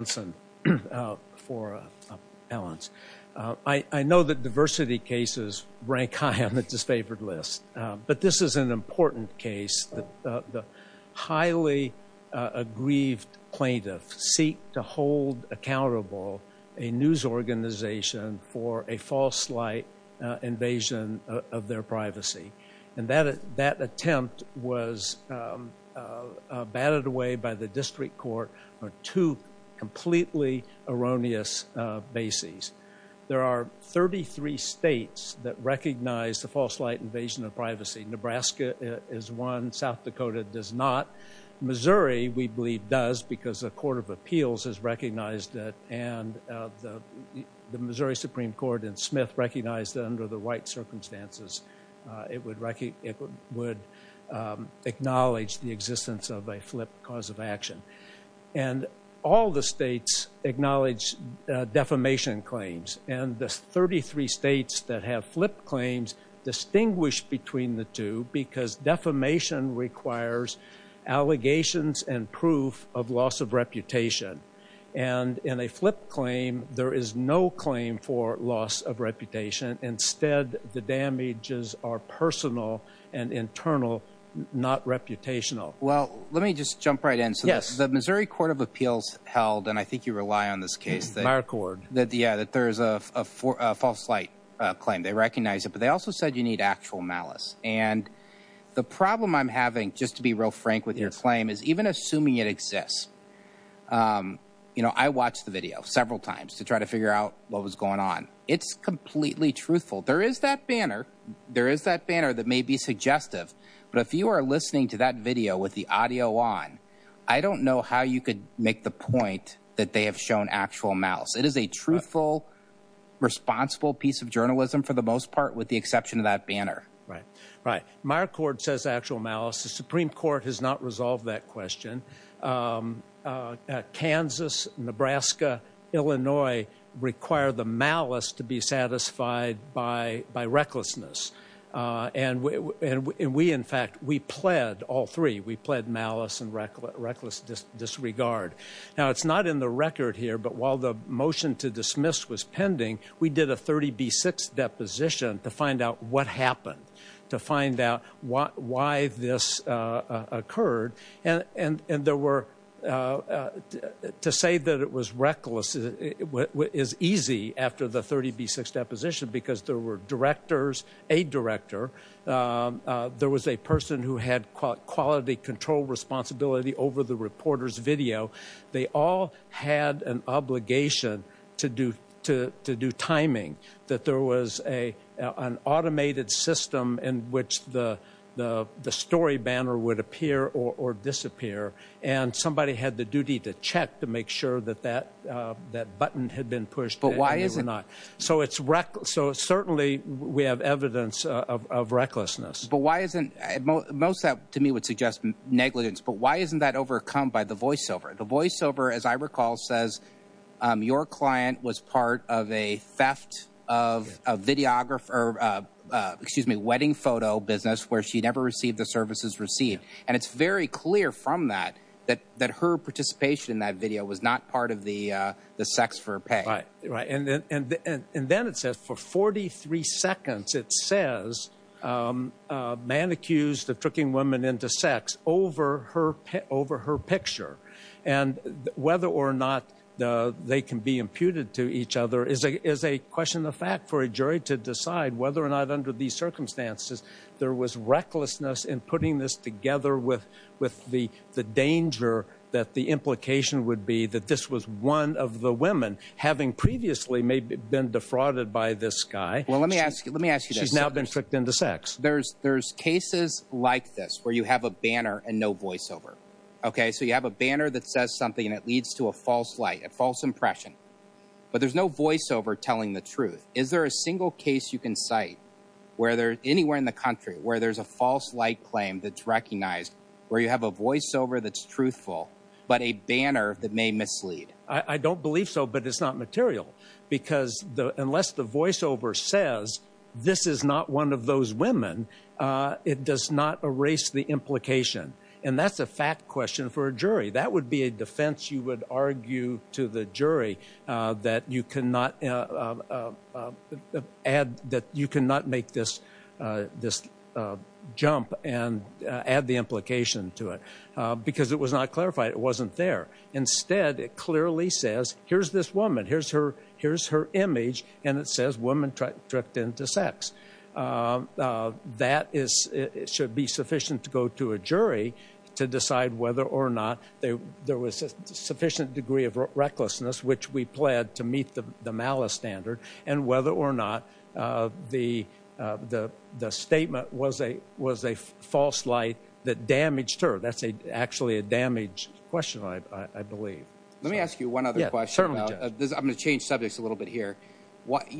I know that diversity cases rank high on the disfavored list, but this is an important case that the highly aggrieved plaintiffs seek to hold accountable a news organization for a false light invasion of their privacy, and that attempt was batted away by the district court on two completely erroneous bases. There are 33 states that recognize the false light invasion of privacy. Nebraska is one. South Dakota does not. Missouri, we believe, does because a court of appeals has recognized it, and the Missouri Supreme Court and Smith recognized it under the white circumstances. It would acknowledge the existence of a flip cause of action. And all the states acknowledge defamation claims, and the 33 states that have flip claims distinguish between the two because defamation requires allegations and proof of loss of reputation. And in a flip claim, there is no claim for loss of reputation. Instead, the damages are personal and internal, not reputational. Well, let me just jump right in. So the Missouri Court of Appeals held, and I think you rely on this case, that there is a false light claim. They recognize it, but they also said you need actual malice. And the problem I'm having, just to be real frank with your claim, is even assuming it exists, you know, I watched the video several times to try to figure out what was going on. It's completely truthful. There is that banner. There is that banner that may be suggestive, but if you are listening to that video with the audio on, I don't know how you could make the point that they have shown actual malice. It is a truthful, responsible piece of journalism for the most part, with the exception of that banner. Right, right. Myer Court says actual malice. The Supreme Court has not resolved that question. Kansas, Nebraska, Illinois require the malice to be satisfied by recklessness. And we, in fact, we pled, all three, we pled malice and reckless disregard. Now it's not in the record here, but while the motion to dismiss was pending, we did a 30B6 deposition to find out what happened, to find out why this occurred. And there because there were directors, a director, there was a person who had quality control responsibility over the reporter's video. They all had an obligation to do timing, that there was an automated system in which the story banner would appear or disappear. And somebody had the duty to check to make sure that that button had been pushed. But why is it not? So it's reckless. So certainly we have evidence of recklessness. But why isn't most that to me would suggest negligence, but why isn't that overcome by the voiceover? The voiceover, as I recall, says your client was part of a theft of a videographer, excuse me, wedding photo business where she never received the services received. And it's very clear from that, that her participation in that video was not part of the sex for pay. Right, right. And then it says for 43 seconds, it says man accused of tricking women into sex over her picture. And whether or not they can be imputed to each other is a question of fact for a jury to decide whether or not under these circumstances there was recklessness in putting this together with the danger that the implication would be that this was one of the women having previously been defrauded by this guy. Well let me ask you, let me ask you this. She's now been tricked into sex. There's cases like this where you have a banner and no voiceover. Okay, so you have a banner that says something and it leads to a false light, a false impression. But there's no voiceover telling the truth. Is there a single case you where there's anywhere in the country where there's a false light claim that's recognized, where you have a voiceover that's truthful, but a banner that may mislead? I don't believe so, but it's not material. Because unless the voiceover says this is not one of those women, it does not erase the implication. And that's a fact question for a jury. That would be a defense you would argue to the jury that you cannot make this jump and add the implication to it. Because it was not clarified, it wasn't there. Instead it clearly says here's this woman, here's her image, and it says woman tricked into sex. That should be sufficient to go to a jury to decide whether there was a sufficient degree of recklessness, which we pled to meet the malice standard, and whether or not the statement was a false light that damaged her. That's actually a damaged question, I believe. Let me ask you one other question. I'm going to change subjects a little bit here. At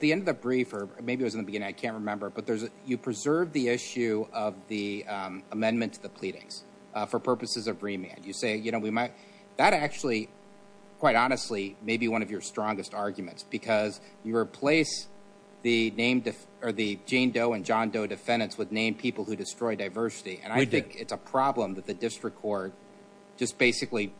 the end of the brief, or maybe it was in the beginning, I can't remember, you preserve the issue of the amendment to the pleadings for purposes of remand. That actually, quite honestly, may be one of your strongest arguments. Because you replace the Jane Doe and John Doe defendants with named people who destroy diversity. And I think it's a problem that the district court just basically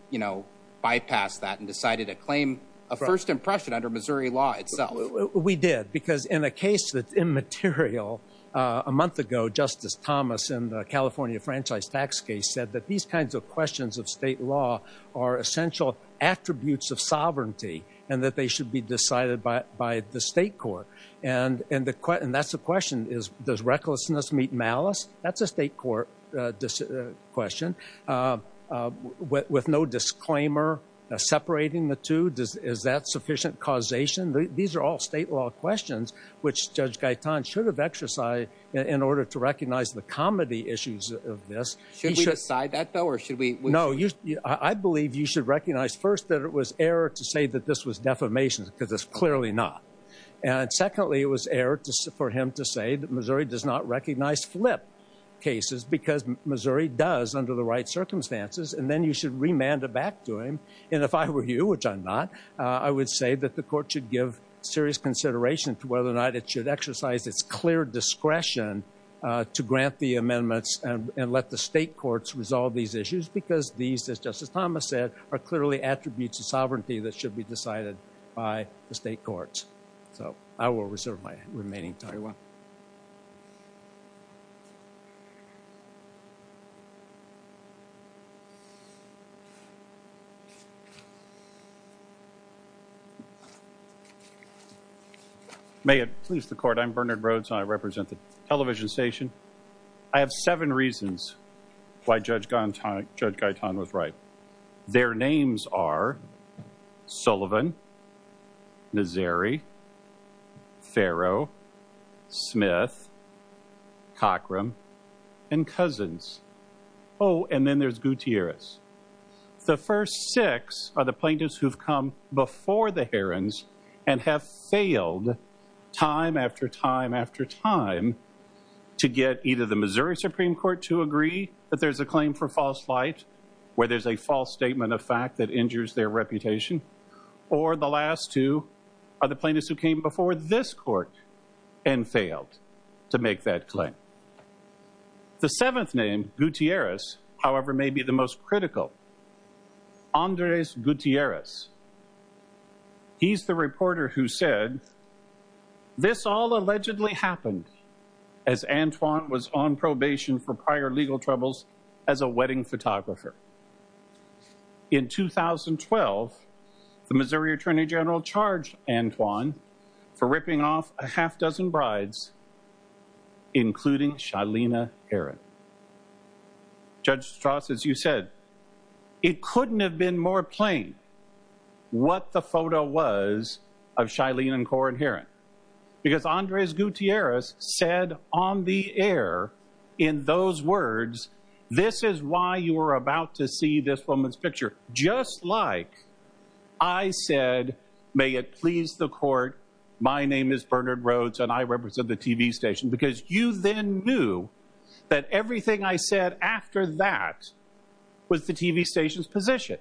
bypassed that and decided to claim a first impression under Missouri law itself. We did. Because in a case that's immaterial, a month ago Justice Thomas in the California franchise tax case said that these kinds of questions of state law are essential attributes of sovereignty and that they should be decided by the state court. And that's the question, does recklessness meet malice? That's a state court question. But with no disclaimer separating the two, is that sufficient causation? These are all state law questions which Judge Gaetan should have exercised in order to recognize the comedy issues of this. Should we decide that though, or should we? No, I believe you should recognize first that it was error to say that this was defamation because it's clearly not. And secondly, it was error for him to say that Missouri does not recognize flip cases because Missouri does under the right circumstances. And then you should remand it back to him. And if I were you, which I'm not, I would say that the court should give serious consideration to whether or not it should exercise its clear discretion to grant the amendments and let the state courts resolve these issues because these, as Justice Thomas said, are clearly attributes of sovereignty that should be decided by the state courts. So I will reserve my remaining time. May it please the court, I'm Bernard Rhodes. I represent the television station. I have seven reasons why Judge Gaetan was right. Their names are Sullivan, Nazeri, Farrow, Smith, Cochram, and Cousins. Oh, and then there's Gutierrez. The first six are the plaintiffs who've come before the Herons and have failed time after time after time to get either the to agree that there's a claim for false flight, where there's a false statement of fact that injures their reputation, or the last two are the plaintiffs who came before this court and failed to make that claim. The seventh name, Gutierrez, however, may be the most critical. Andres Gutierrez. He's the reporter who said this all allegedly happened as Antoine was on legal troubles as a wedding photographer. In 2012, the Missouri Attorney General charged Antoine for ripping off a half dozen brides, including Shilina Heron. Judge Strauss, as you said, it couldn't have been more plain what the photo was of Shilina and Corrine Heron because Andres Gutierrez said on the air, in those words, this is why you were about to see this woman's picture, just like I said, may it please the court. My name is Bernard Rhodes and I represent the TV station because you then knew that everything I said after that was the TV station's position.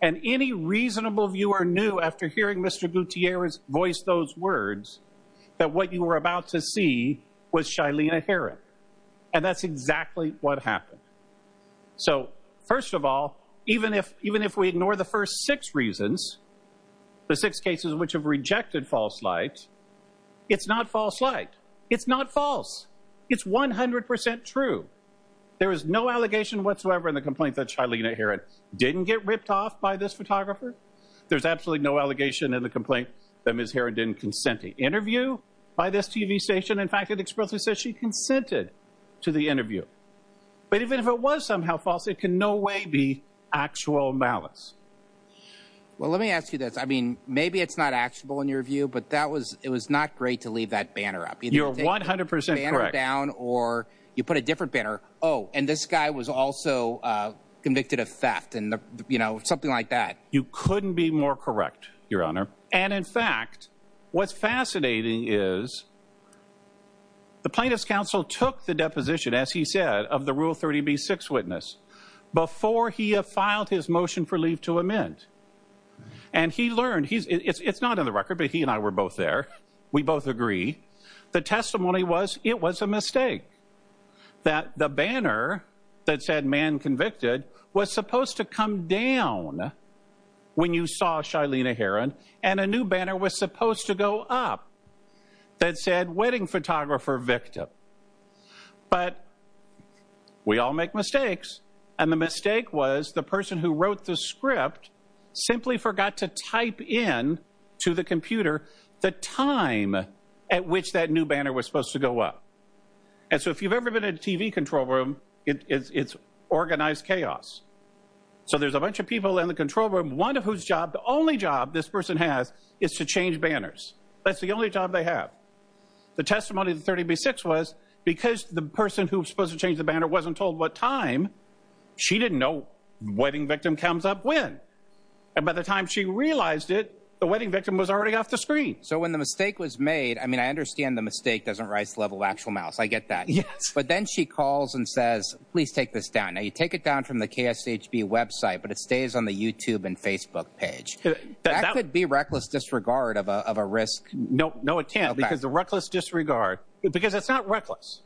And any reasonable viewer knew after hearing Mr. Gutierrez voice those words, that what you were about to see was Shilina Heron. And that's exactly what happened. So first of all, even if we ignore the first six reasons, the six cases which have rejected false light, it's not false light. It's not false. It's 100% true. There is no allegation whatsoever in the complaint that Shilina Heron didn't get ripped off by this photographer. There's absolutely no allegation in the complaint that Ms. Heron didn't consent to interview by this TV station. In fact, it expressly says she consented to the interview. But even if it was somehow false, it can no way be actual malice. Well, let me ask you this. I mean, maybe it's not actual in your view, but that was it was not great to leave that banner up. You're 100% down or you put a different banner. Oh, and this guy was also convicted of theft and, you know, something like that. You couldn't be more correct, Your Honor. And in fact, what's fascinating is the plaintiff's counsel took the deposition, as he said, of the Rule 30b-6 witness before he had filed his motion for leave to amend. And he learned, it's not in the record, but he and I both agree, the testimony was it was a mistake that the banner that said man convicted was supposed to come down when you saw Shilina Heron and a new banner was supposed to go up that said wedding photographer victim. But we all make mistakes. And the mistake was the person who the time at which that new banner was supposed to go up. And so if you've ever been in a TV control room, it's organized chaos. So there's a bunch of people in the control room, one of whose job, the only job this person has is to change banners. That's the only job they have. The testimony of the 30b-6 was because the person who's supposed to change the banner wasn't told what time, she didn't know wedding victim comes up when. And by the time she realized it, the wedding victim was already off the screen. So when the mistake was made, I mean, I understand the mistake doesn't rise to the level of actual mouse. I get that. Yes. But then she calls and says, please take this down. Now you take it down from the KSHB website, but it stays on the YouTube and Facebook page. That could be reckless disregard of a risk. No, no, it can't because the reckless disregard because it's not reckless.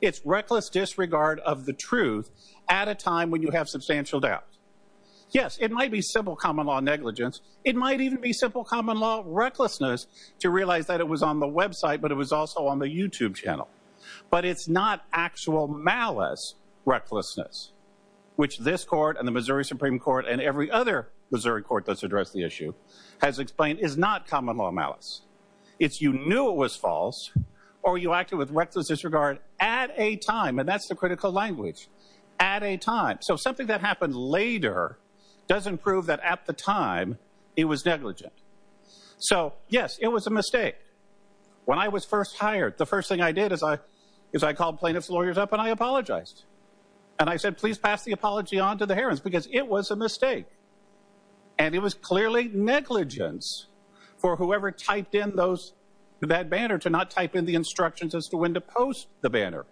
It's reckless disregard of the truth at a time you have substantial doubt. Yes, it might be simple common law negligence. It might even be simple common law recklessness to realize that it was on the website, but it was also on the YouTube channel. But it's not actual malice recklessness, which this court and the Missouri Supreme Court and every other Missouri court that's addressed the issue has explained is not common law malice. It's you knew it was false or you acted with reckless disregard at a time. And that's the something that happened later doesn't prove that at the time it was negligent. So, yes, it was a mistake. When I was first hired, the first thing I did is I is I called plaintiff's lawyers up and I apologized. And I said, please pass the apology on to the hearings, because it was a mistake. And it was clearly negligence for whoever typed in those that banner to not type in the instructions as to when to post the banner.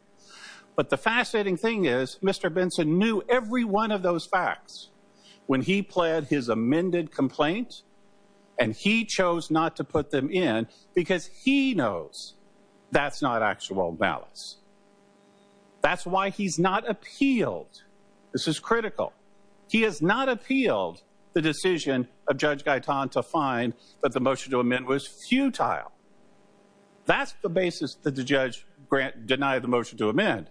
But the fascinating thing is Mr. Benson knew every one of those facts when he pled his amended complaint and he chose not to put them in because he knows that's not actual malice. That's why he's not appealed. This is critical. He has not appealed the decision of Judge Gaitan to find that the motion to amend was futile. That's the basis that the judge grant denied the motion to amend,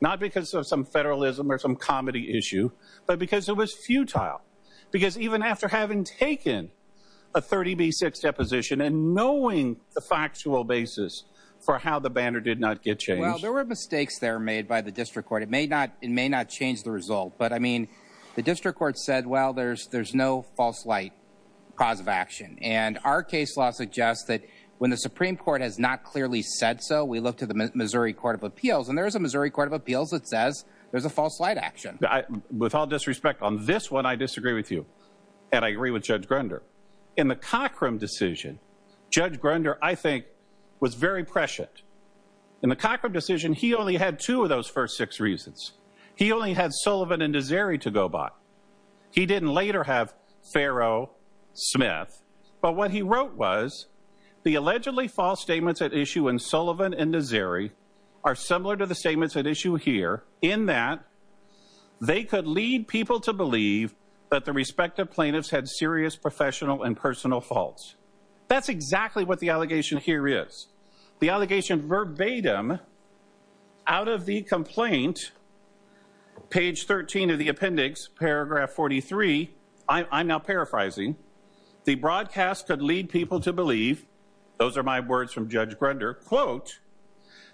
not because of some federalism or some comedy issue, but because it was futile, because even after having taken a 30B6 deposition and knowing the factual basis for how the banner did not get changed. Well, there were mistakes there made by the district court. It may not it may not change the result. But I mean, the district court said, well, there's there's no false light cause of action. And our case law suggests that when the Supreme Court has not clearly said so, we look to the Missouri Court of Appeals. And there is a Missouri Court of Appeals that says there's a false light action. With all disrespect on this one, I disagree with you. And I agree with Judge Grunder. In the Cochram decision, Judge Grunder, I think, was very prescient. In the Cochram decision, he only had two of those first six reasons. He only had Sullivan and Nazari to go by. He didn't later have Pharaoh Smith. But what he wrote was the allegedly false statements at issue in Sullivan and Nazari are similar to the statements at issue here in that they could lead people to believe that the respective plaintiffs had serious professional and personal faults. That's exactly what the allegation here is. The allegation verbatim out of the complaint, page 13 of the appendix, paragraph 43. I'm now paraphrasing. The broadcast could lead people to believe, those are my words from Judge Grunder, quote,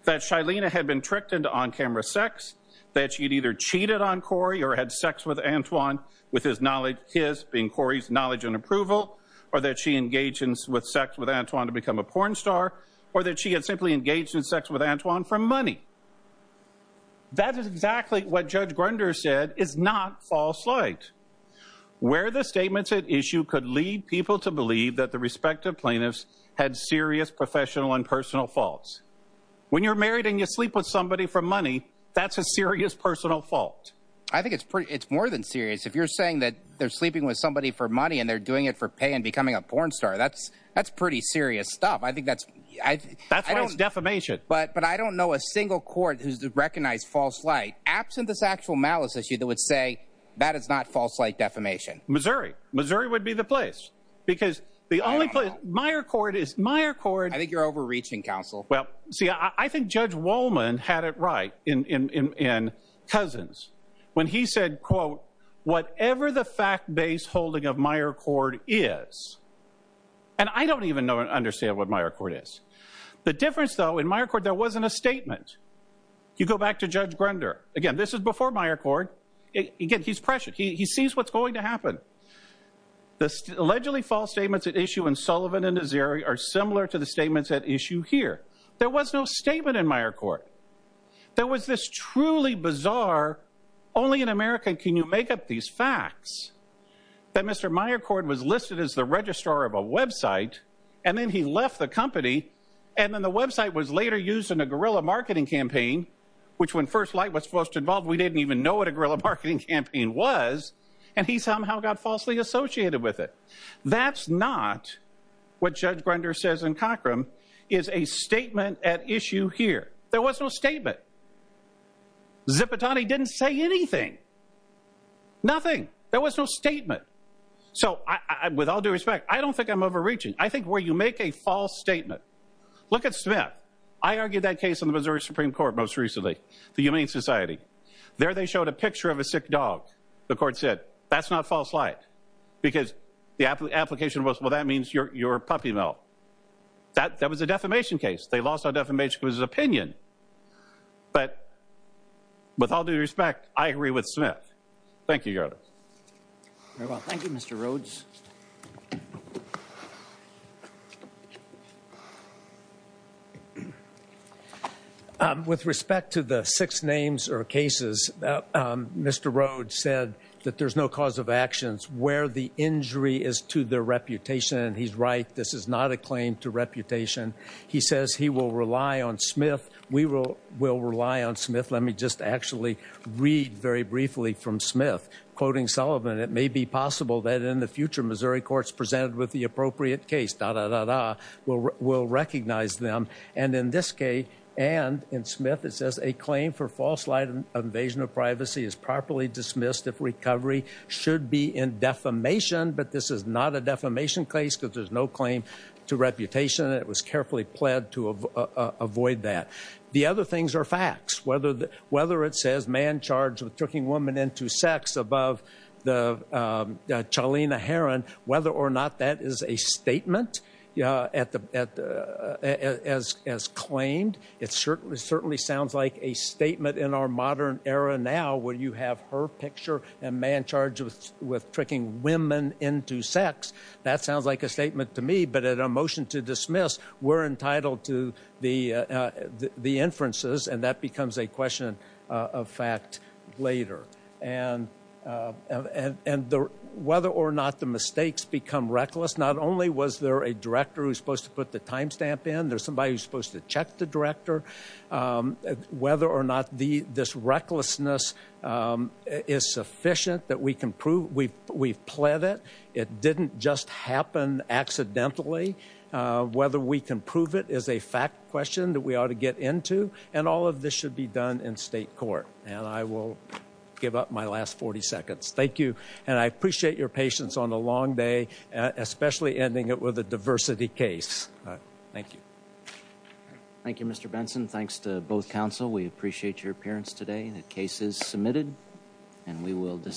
that Shailena had been tricked into on-camera sex, that she'd either cheated on Corey or had sex with Antoine with his knowledge, his being Corey's knowledge and approval, or that she engaged in sex with Antoine to become a porn star, or that she had simply engaged in sex with Antoine for money. That is exactly what Judge Grunder said is not false light. Where the statements at issue could lead people to believe that the respective plaintiffs had serious professional and personal faults. When you're married and you sleep with somebody for money, that's a serious personal fault. I think it's more than serious. If you're saying that they're sleeping with somebody for money and they're doing it for pay and becoming a porn star, that's pretty serious stuff. That's why it's defamation. But I don't know a single court who's recognized false light absent this actual malice issue that say that is not false light defamation. Missouri. Missouri would be the place because the only place, Meyer Court is, Meyer Court. I think you're overreaching, counsel. Well, see, I think Judge Wollman had it right in Cousins when he said, quote, whatever the fact-based holding of Meyer Court is. And I don't even know and understand what Meyer Court is. The difference, though, in Meyer Court, there wasn't a statement. You go back to Judge Grunder. Again, this is before Meyer Court. Again, he's pressured. He sees what's going to happen. The allegedly false statements at issue in Sullivan and Nazeri are similar to the statements at issue here. There was no statement in Meyer Court. There was this truly bizarre, only in America can you make up these facts, that Mr. Meyer Court was listed as the registrar of a website and then he left the company and then the website was later used in a guerrilla marketing campaign, which when first light was involved, we didn't even know what a guerrilla marketing campaign was and he somehow got falsely associated with it. That's not what Judge Grunder says in Cochram is a statement at issue here. There was no statement. Zipitani didn't say anything. Nothing. There was no statement. So with all due respect, I don't think I'm overreaching. I think where you make a false statement, look at Smith. I argued that case on the Missouri Supreme Court most recently, the Humane Society. There they showed a picture of a sick dog. The court said, that's not false light because the application was, well, that means you're a puppy mill. That was a defamation case. They lost on defamation because of his opinion. But with all due respect, I agree with Smith. Thank you, Your Honor. Very well. Thank you, Mr. Rhodes. With respect to the six names or cases, Mr. Rhodes said that there's no cause of actions where the injury is to their reputation. And he's right. This is not a claim to reputation. He says he will rely on Smith. We will rely on Smith. Let me just actually read very briefly from Smith, quoting Sullivan. It may be possible that in the future, Missouri courts presented with the appropriate case, da, da, da, da, will recognize them. And in this case, and in Smith, it says a claim for false light of invasion of privacy is properly dismissed if recovery should be in defamation. But this is not a defamation case because there's no claim to reputation. It was carefully pled to avoid that. The other things are facts. Whether it says man charged with tricking woman into sex above the Chalina Heron, whether or not that is a statement as claimed, it certainly sounds like a statement in our modern era now where you have her picture and man charged with tricking women into sex. That sounds like a statement to me. But at a motion to dismiss, we're entitled to the inferences. And that becomes a question of fact later. And whether or not the mistakes become reckless, not only was there a director who's supposed to put the time stamp in, there's somebody who's supposed to check the director. Whether or not this recklessness is sufficient that we can prove, we've pled it. It didn't just happen accidentally. Whether we can prove it is a fact question that we ought to get into and all of this should be done in state court. And I will give up my last 40 seconds. Thank you. And I appreciate your patience on a long day, especially ending it with a diversity case. Thank you. Thank you, Mr. Benson. Thanks to both counsel. We appreciate your appearance today. The case is submitted and we will decide.